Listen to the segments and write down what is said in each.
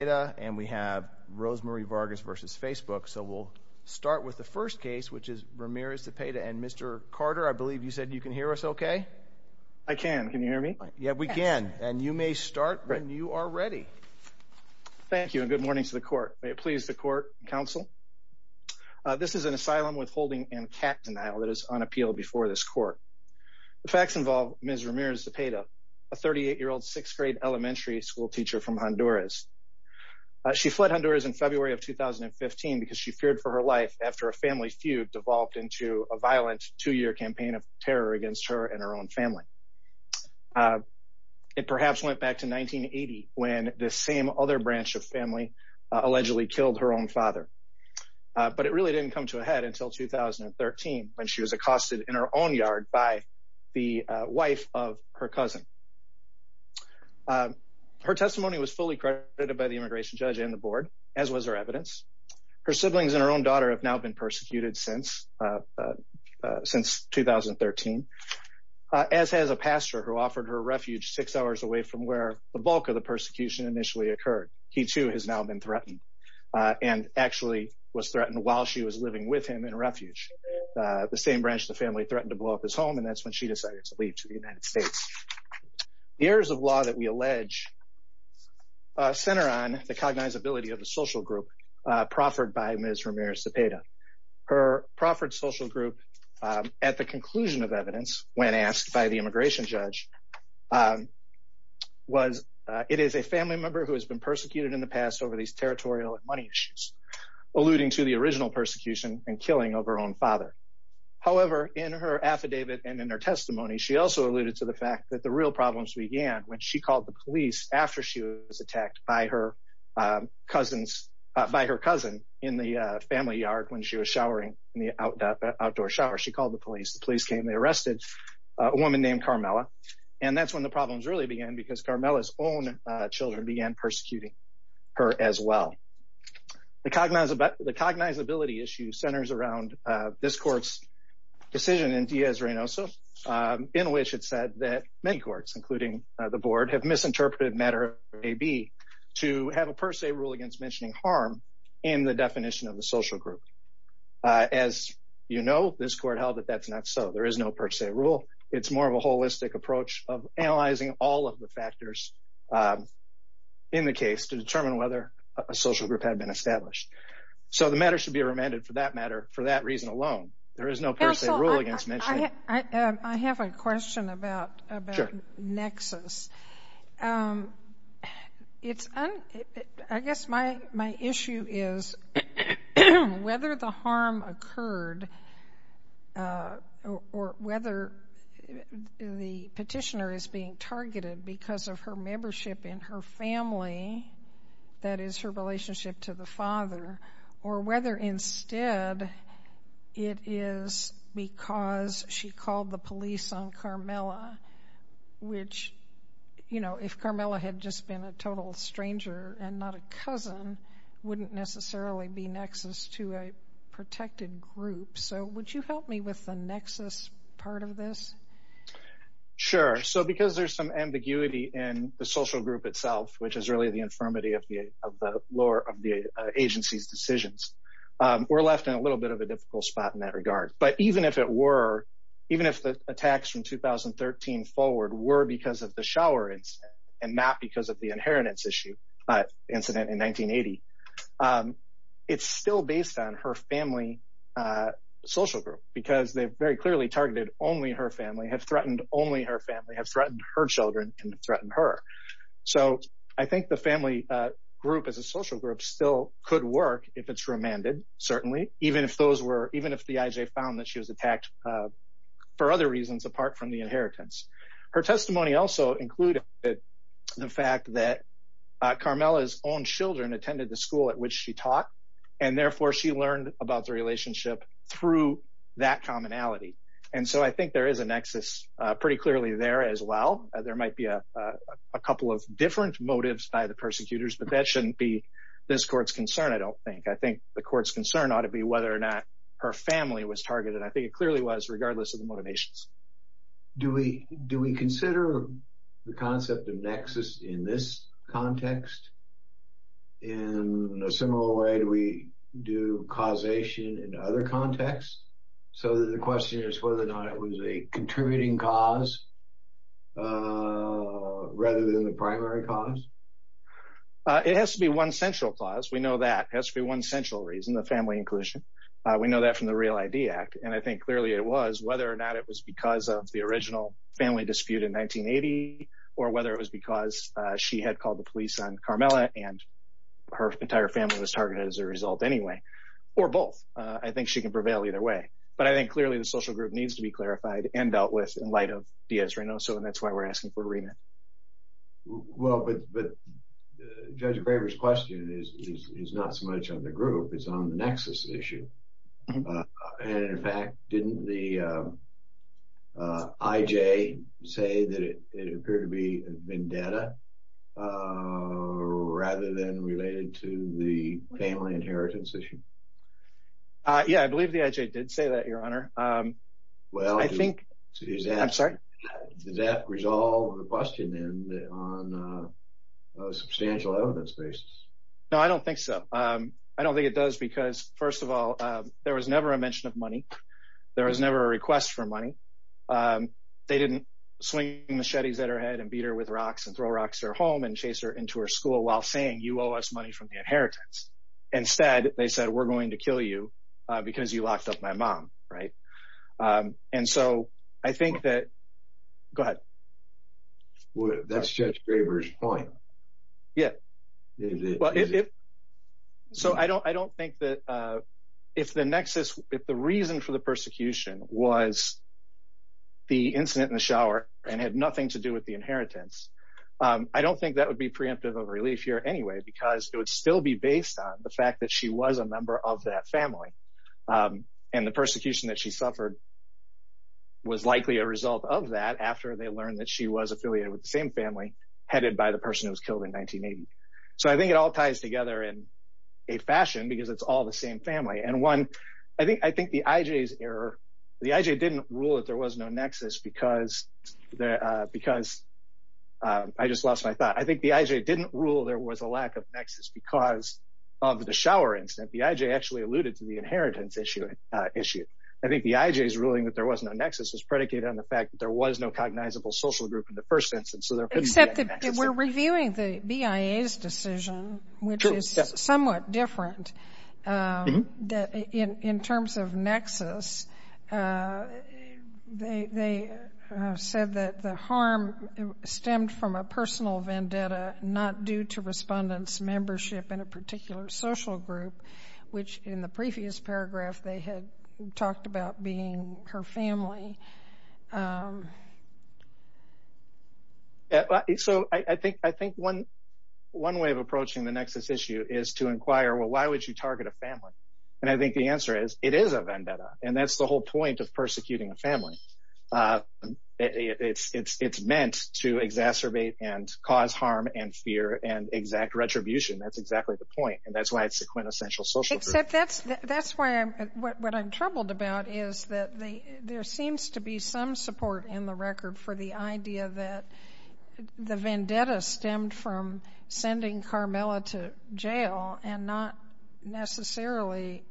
And we have Rosemarie Vargas versus Facebook. So we'll start with the first case, which is Ramirez-Zepeda. And Mr. Carter, I believe you said you can hear us OK? I can. Can you hear me? Yeah, we can. And you may start when you are ready. Thank you, and good morning to the court. May it please the court and counsel. This is an asylum withholding and cat denial that is on appeal before this court. The facts involve Ms. Ramirez-Zepeda, a 38-year-old sixth grade elementary school teacher from Honduras. She fled Honduras in February of 2015 because she feared for her life after a family feud devolved into a violent two-year campaign of terror against her and her own family. It perhaps went back to 1980, when the same other branch of family allegedly killed her own father. But it really didn't come to a head until 2013, when she was accosted in her own yard by the wife of her cousin. Her testimony was fully credited by the immigration judge and the board, as was her evidence. Her siblings and her own daughter have now been persecuted since 2013, as has a pastor who offered her refuge six hours away from where the bulk of the persecution initially occurred. He, too, has now been threatened, and actually was threatened while she was living with him in refuge. The same branch of the family threatened to blow up his home, and that's when she decided to leave to the United States. The errors of law that we allege center on the cognizability of a social group proffered by Ms. Ramirez-Cepeda. Her proffered social group, at the conclusion of evidence, when asked by the immigration judge, was it is a family member who has been persecuted in the past over these territorial money issues, alluding to the original persecution and killing of her own father. However, in her affidavit and in her testimony, she also alluded to the fact that the real problems began when she called the police after she was attacked by her cousin in the family yard when she was showering in the outdoor shower. She called the police. The police came. They arrested a woman named Carmela. And that's when the problems really began, because Carmela's own children began persecuting her as well. The cognizability issue centers around this court's decision in Diaz-Reynoso, in which it said that many courts, including the board, have misinterpreted matter AB to have a per se rule against mentioning harm in the definition of a social group. As you know, this court held that that's not so. There is no per se rule. It's more of a holistic approach of analyzing all of the factors in the case to determine whether a social group had been established. So the matter should be remanded for that matter, for that reason alone. There is no per se rule against mentioning. I have a question about nexus. I guess my issue is whether the harm occurred or whether the petitioner is being targeted because of her membership in her family, that is her relationship to the father, or whether instead it is because she called the police on Carmela, which if Carmela had just been a total stranger and not a cousin, wouldn't necessarily be nexus to a protected group. So would you help me with the nexus part of this? Sure. So because there's some ambiguity in the social group itself, which is really the infirmity of the agency's decisions, we're left in a little bit of a difficult spot in that regard. But even if the attacks from 2013 forward were because of the shower incident and not because of the inheritance incident in 1980, it's still based on her family social group because they've very clearly targeted only her family, have threatened only her family, have threatened her children, and threatened her. So I think the family group as a social group still could work if it's remanded, certainly, even if the IJ found that she was attacked for other reasons apart from the inheritance. Her testimony also included the fact that Carmela's own children attended the school at which she taught. And therefore, she learned about the relationship through that commonality. And so I think there is a nexus pretty clearly there as well. There might be a couple of different motives by the persecutors, but that shouldn't be this court's concern, I don't think. I think the court's concern ought to be whether or not her family was targeted. I think it clearly was, regardless of the motivations. Do we consider the concept of nexus in this context? In a similar way, do we do causation in other contexts? So the question is whether or not it was a contributing cause rather than the primary cause? It has to be one central cause. We know that. It has to be one central reason, the family inclusion. We know that from the REAL ID Act. And I think clearly it was, whether or not it was because of the original family dispute in 1980, or whether it was because she had called the police on Carmela and her entire family was targeted as a result anyway, or both. I think she can prevail either way. But I think clearly the social group needs to be clarified and dealt with in light of Diaz-Reynoso, and that's why we're asking for a remit. Well, but Judge Graber's question is not so much on the group. It's on the nexus issue. And in fact, didn't the IJ say that it appeared to be a vendetta rather than related to the family inheritance issue? Yeah, I believe the IJ did say that, Your Honor. Well, does that resolve the question on a substantial evidence basis? No, I don't think so. I don't think it does because, first of all, there was never a mention of money. There was never a request for money. They didn't swing machetes at her head and beat her with rocks and throw rocks at her home and chase her into her school while saying, you owe us money from the inheritance. Instead, they said, we're going to kill you because you locked up my mom, right? And so I think that, go ahead. That's Judge Graber's point. Yeah. So I don't think that if the nexus, if the reason for the persecution was the incident in the shower and had nothing to do with the inheritance, I don't think that would be preemptive of relief here anyway because it would still be based on the fact that she was a member of that family. And the persecution that she suffered was likely a result of that after they learned that she was affiliated with the same family headed by the person who was killed in 1980. So I think it all ties together in a fashion because it's all the same family. And one, I think the IJ's error, the IJ didn't rule that there was no nexus because I just lost my thought. I think the IJ didn't rule there was a lack of nexus because of the shower incident. The IJ actually alluded to the inheritance issue. I think the IJ's ruling that there was no nexus was predicated on the fact that there was no cognizable social group in the first instance, so there couldn't be a nexus. Except that we're reviewing the BIA's decision, which is somewhat different in terms of nexus. They said that the harm stemmed from a personal vendetta, not due to respondents' membership in a particular social group, which in the previous paragraph they had talked about being her family. So I think one way of approaching the nexus issue is to inquire, well, why would you target a family? And I think the answer is, it is a vendetta. And that's the whole point of persecuting a family. It's meant to exacerbate and cause harm and fear and exact retribution. That's exactly the point. And that's why it's a quintessential social group. That's why what I'm troubled about is that there seems to be some support in the record for the idea that the vendetta stemmed from sending Carmela to jail and not necessarily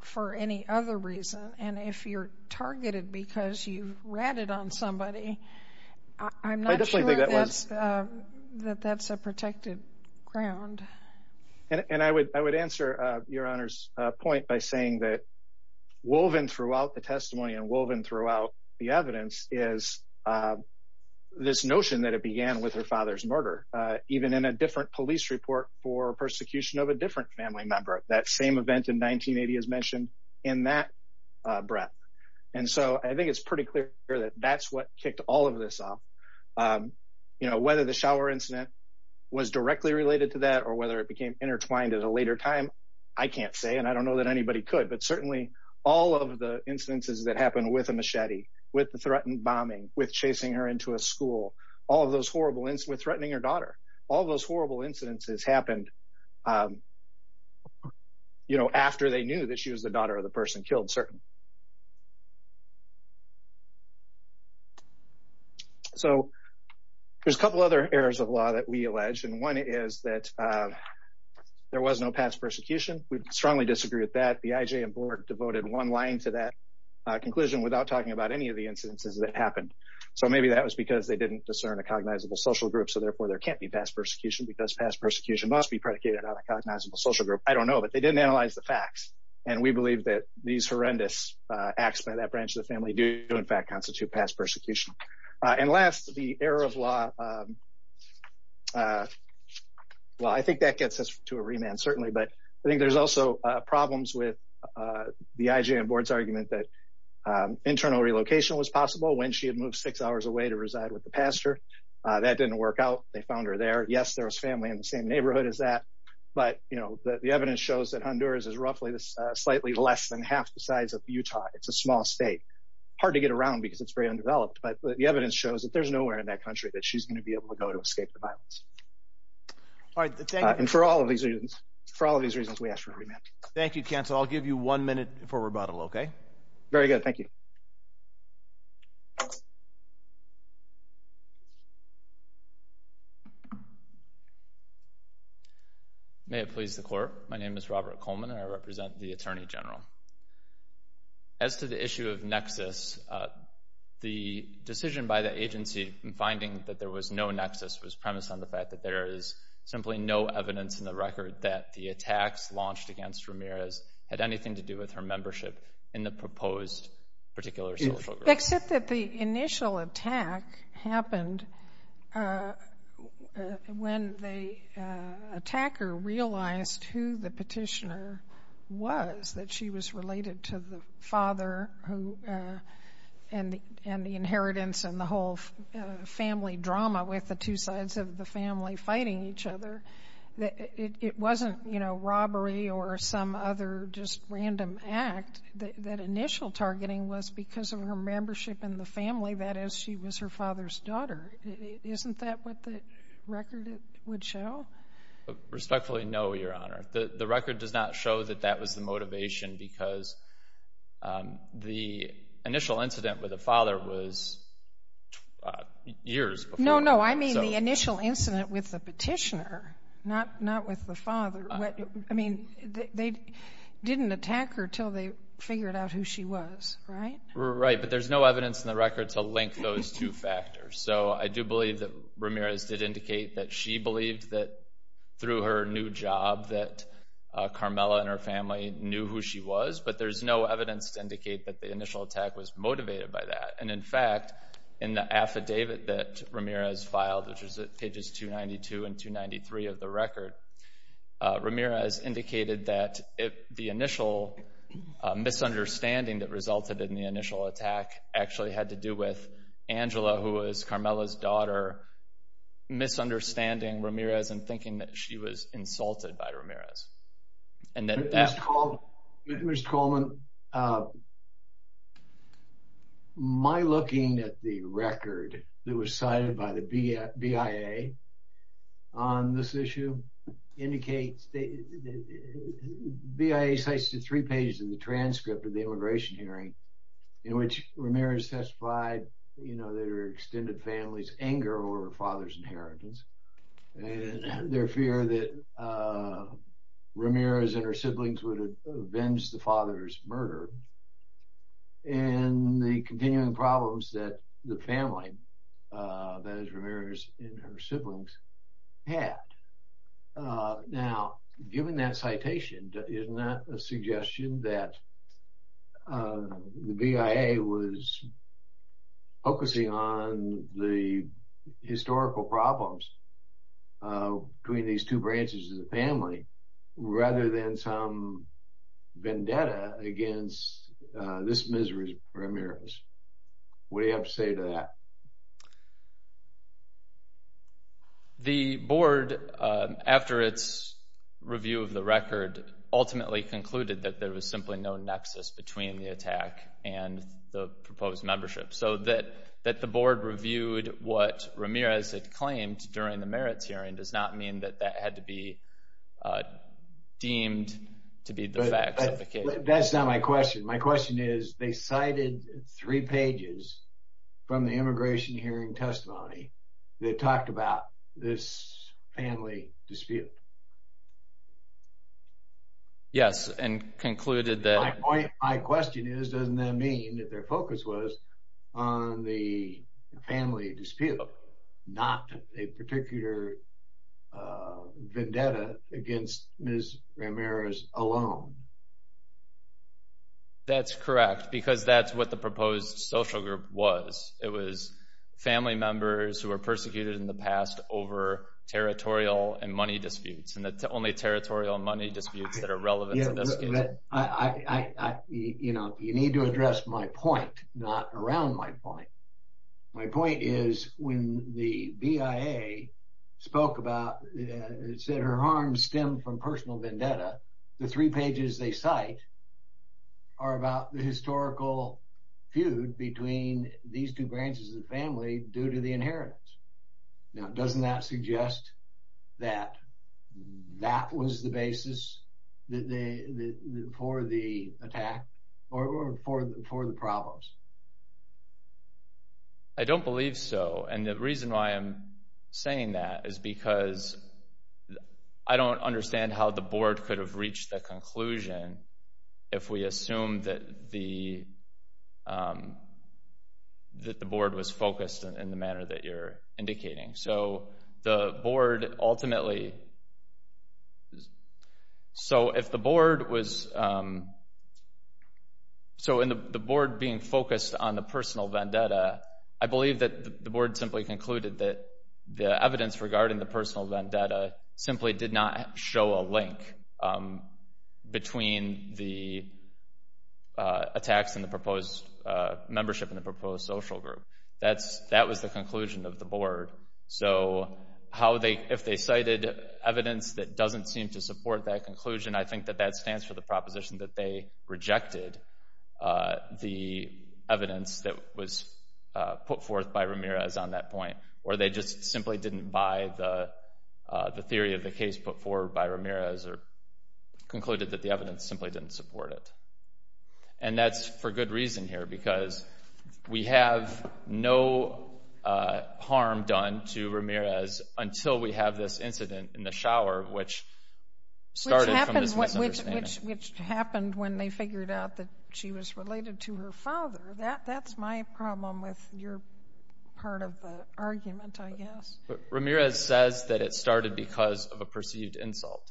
for any other reason. And if you're targeted because you ratted on somebody, I'm not sure that that's a protected ground. And I would answer Your Honor's point by saying that woven throughout the testimony and woven throughout the evidence is this notion that it began with her father's murder. Even in a different police report for persecution of a different family member, that same event in 1980 is mentioned in that breath. And so I think it's pretty clear that that's what kicked all of this off. Whether the shower incident was directly related to that or whether it became intertwined at a later time, I can't say, and I don't know that anybody could, but certainly all of the instances that happened with a machete, with the threatened bombing, with chasing her into a school, all of those horrible, with threatening her daughter, all of those horrible incidences happened after they knew that she was the daughter of the person killed, certainly. So there's a couple other errors of law that we allege. And one is that there was no past persecution. We strongly disagree with that. The IJ and board devoted one line to that conclusion without talking about any of the incidences that happened. So maybe that was because they didn't discern a cognizable social group, so therefore there can't be past persecution because past persecution must be predicated on a cognizable social group. I don't know, but they didn't analyze the facts. And we believe that these horrendous acts by that branch of the family do in fact constitute past persecution. And last, the error of law. Well, I think that gets us to a remand, certainly, but I think there's also problems with the IJ and board's argument that internal relocation was possible when she had moved six hours away to reside with the pastor. That didn't work out. They found her there. Yes, there was family in the same neighborhood as that, but the evidence shows that Honduras is roughly slightly less than half the size of Utah. It's a small state. Hard to get around because it's very undeveloped, but the evidence shows that there's nowhere in that country that she's gonna be able to go to escape the violence. All right, and for all of these reasons, for all of these reasons, we ask for a remand. Thank you, counsel. I'll give you one minute for rebuttal, okay? Very good, thank you. Thanks. May it please the court. My name is Robert Coleman, and I represent the attorney general. As to the issue of nexus, the decision by the agency in finding that there was no nexus was premised on the fact that there is simply no evidence in the record that the attacks launched against Ramirez had anything to do with her membership in the proposed particular social group. Except that the initial attack happened when the attacker realized who the petitioner was, that she was related to the father and the inheritance and the whole family drama with the two sides of the family fighting each other, that it wasn't robbery or some other just random act. That initial targeting was because of her membership in the family, that is, she was her father's daughter. Isn't that what the record would show? Respectfully, no, Your Honor. The record does not show that that was the motivation because the initial incident with the father was years before. No, no, I mean the initial incident with the petitioner, not with the father. I mean, they didn't attack her till they figured out who she was, right? Right, but there's no evidence in the record to link those two factors. So I do believe that Ramirez did indicate that she believed that through her new job that Carmela and her family knew who she was, but there's no evidence to indicate that the initial attack was motivated by that. And in fact, in the affidavit that Ramirez filed, which is at pages 292 and 293 of the record, Ramirez indicated that the initial misunderstanding that resulted in the initial attack actually had to do with Angela, who was Carmela's daughter, misunderstanding Ramirez and thinking that she was insulted by Ramirez. And that that- Mr. Coleman, my looking at the record that was cited by the BIA on this issue, indicates the BIA cites the three pages in the transcript of the immigration hearing in which Ramirez testified, you know, their extended family's anger over her father's inheritance, and their fear that Ramirez and her siblings would avenge the father's murder, and the continuing problems that the family, that is Ramirez and her siblings, had. Now, given that citation, isn't that a suggestion that the BIA was focusing on the historical problems between these two branches of the family, rather than some vendetta against this misery of Ramirez? What do you have to say to that? The board, after its review of the record, ultimately concluded that there was simply no nexus between the attack and the proposed membership. So that the board reviewed what Ramirez had claimed during the merits hearing does not mean that that had to be deemed to be the facts of the case. That's not my question. My question is, they cited three pages from the immigration hearing testimony that talked about this family dispute. Yes, and concluded that- My question is, doesn't that mean that their focus was on the family dispute, not a particular vendetta against Ms. Ramirez alone? That's correct, because that's what the proposed social group was. It was family members who were persecuted in the past over territorial and money disputes, and it's only territorial and money disputes that are relevant to this case. You need to address my point, not around my point. My point is, when the BIA spoke about, said her harm stemmed from personal vendetta, the three pages they cite are about the historical feud between these two branches of the family due to the inheritance. Now, doesn't that suggest that that was the basis for the attack or for the problems? I don't believe so, and the reason why I'm saying that is because I don't understand how the board could have reached that conclusion if we assumed that the board was focused in the manner that you're indicating. So, the board ultimately... So, if the board was... So, in the board being focused on the personal vendetta, I believe that the board simply concluded that the evidence regarding the personal vendetta simply did not show a link between the attacks and the proposed membership and the proposed social group. That was the conclusion of the board. So, if they cited evidence that doesn't seem to support that conclusion, I think that that stands for the proposition that they rejected the evidence that was put forth by Ramirez on that point, or they just simply didn't buy the theory of the case put forward by Ramirez or concluded that the evidence simply didn't support it. And that's for good reason here, because we have no harm done to Ramirez until we have this incident in the shower, which started from this misunderstanding. Which happened when they figured out that she was related to her father. That's my problem with your part of the argument, I guess. Ramirez says that it started because of a perceived insult,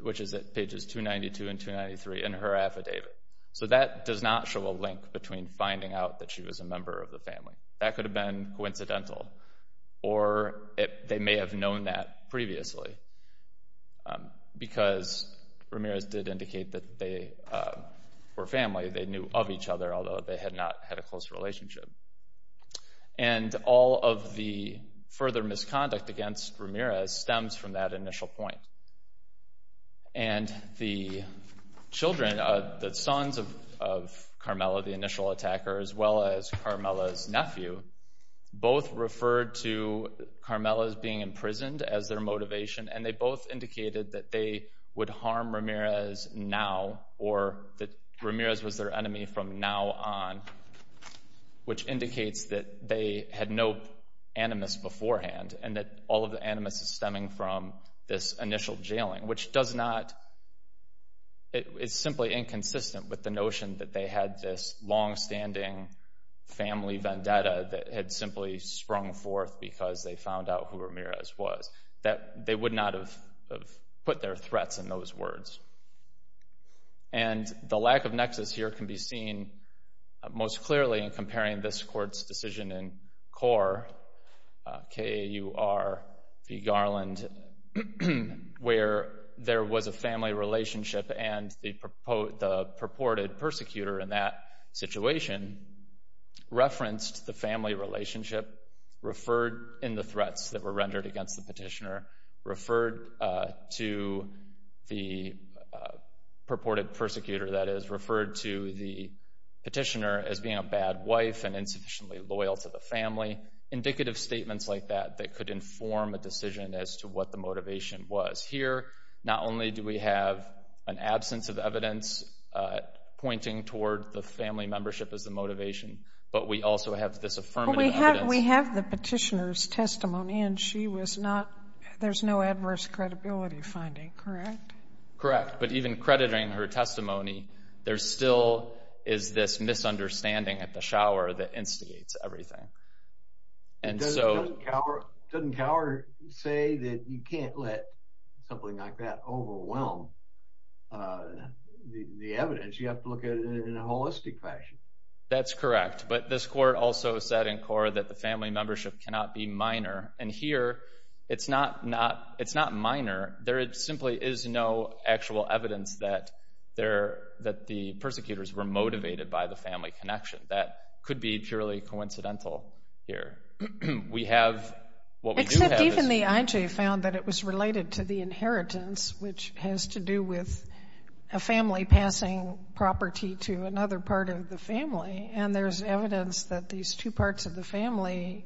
which is at pages 292 and 293 in her affidavit. So, that does not show a link between finding out that she was a member of the family. That could have been coincidental, or they may have known that previously, because Ramirez did indicate that they were family, they knew of each other, although they had not had a close relationship. And all of the further misconduct against Ramirez stems from that initial point. And the children, the sons of Carmela, the initial attacker, as well as Carmela's nephew, both referred to Carmela's being imprisoned as their motivation, and they both indicated that they would harm Ramirez now, or that Ramirez was their enemy from now on, which indicates that they had no animus beforehand, and that all of the animus is stemming from this initial jailing, which is simply inconsistent with the notion that they had this longstanding family vendetta that had simply sprung forth because they found out who Ramirez was, that they would not have put their threats in those words. And the lack of nexus here can be seen most clearly in comparing this court's decision in CORE, K-A-U-R-V Garland, where there was a family relationship and the purported persecutor in that situation referenced the family relationship, referred in the threats that were rendered against the petitioner, referred to the purported persecutor, that is, referred to the petitioner as being a bad wife and insufficiently loyal to the family, indicative statements like that that could inform a decision as to what the motivation was. Here, not only do we have an absence of evidence pointing toward the family membership as the motivation, but we also have this affirmative evidence. We have the petitioner's testimony, and she was not, there's no adverse credibility finding, correct? Correct, but even crediting her testimony, there still is this misunderstanding at the shower that instigates everything. And so- Doesn't Cower say that you can't let something like that overwhelm the evidence? You have to look at it in a holistic fashion. That's correct. But this court also said in CORE that the family membership cannot be minor. And here, it's not minor. There simply is no actual evidence that the persecutors were motivated by the family connection. That could be purely coincidental here. We have, what we do have is- Except even the IJ found that it was related to the inheritance, which has to do with a family passing property to another part of the family, and there's evidence that these two parts of the family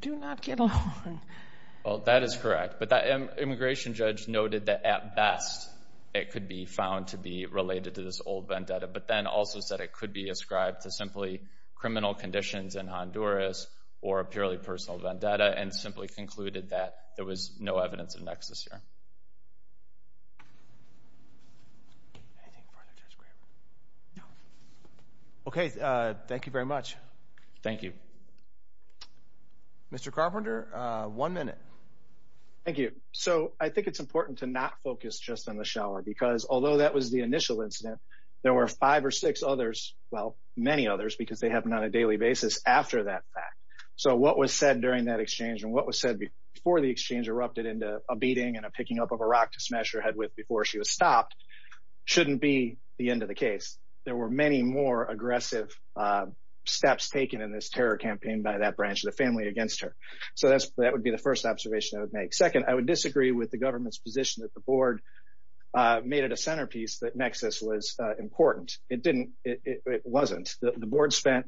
do not get along. Well, that is correct. But that immigration judge noted that, at best, it could be found to be related to this old vendetta, but then also said it could be ascribed to simply criminal conditions in Honduras or a purely personal vendetta, and simply concluded that there was no evidence of nexus here. Anything further, Judge Graham? No. Okay, thank you very much. Thank you. Mr. Carpenter, one minute. Thank you. So I think it's important to not focus just on the shower, because although that was the initial incident, there were five or six others, well, many others, because they happen on a daily basis after that fact. So what was said during that exchange and what was said before the exchange erupted into a beating and a picking up of a rock to smash her head with before she was stopped shouldn't be the end of the case. There were many more aggressive steps taken in this terror campaign by that branch of the family against her. So that would be the first observation I would make. Second, I would disagree with the government's position that the board made it a centerpiece that nexus was important. It didn't, it wasn't. The board spent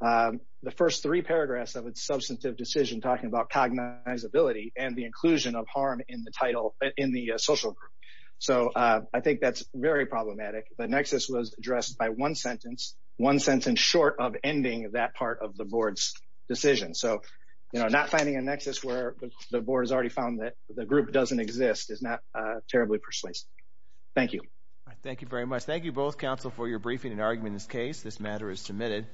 the first three paragraphs of its substantive decision talking about cognizability and the inclusion of harm in the title, in the social group. So I think that's very problematic, but nexus was addressed by one sentence, one sentence short of ending that part of the board's decision. So, you know, not finding a nexus where the board has already found that the group doesn't exist is not terribly persuasive. Thank you. Thank you very much. Thank you both, counsel, for your briefing and argument in this case. This matter is submitted.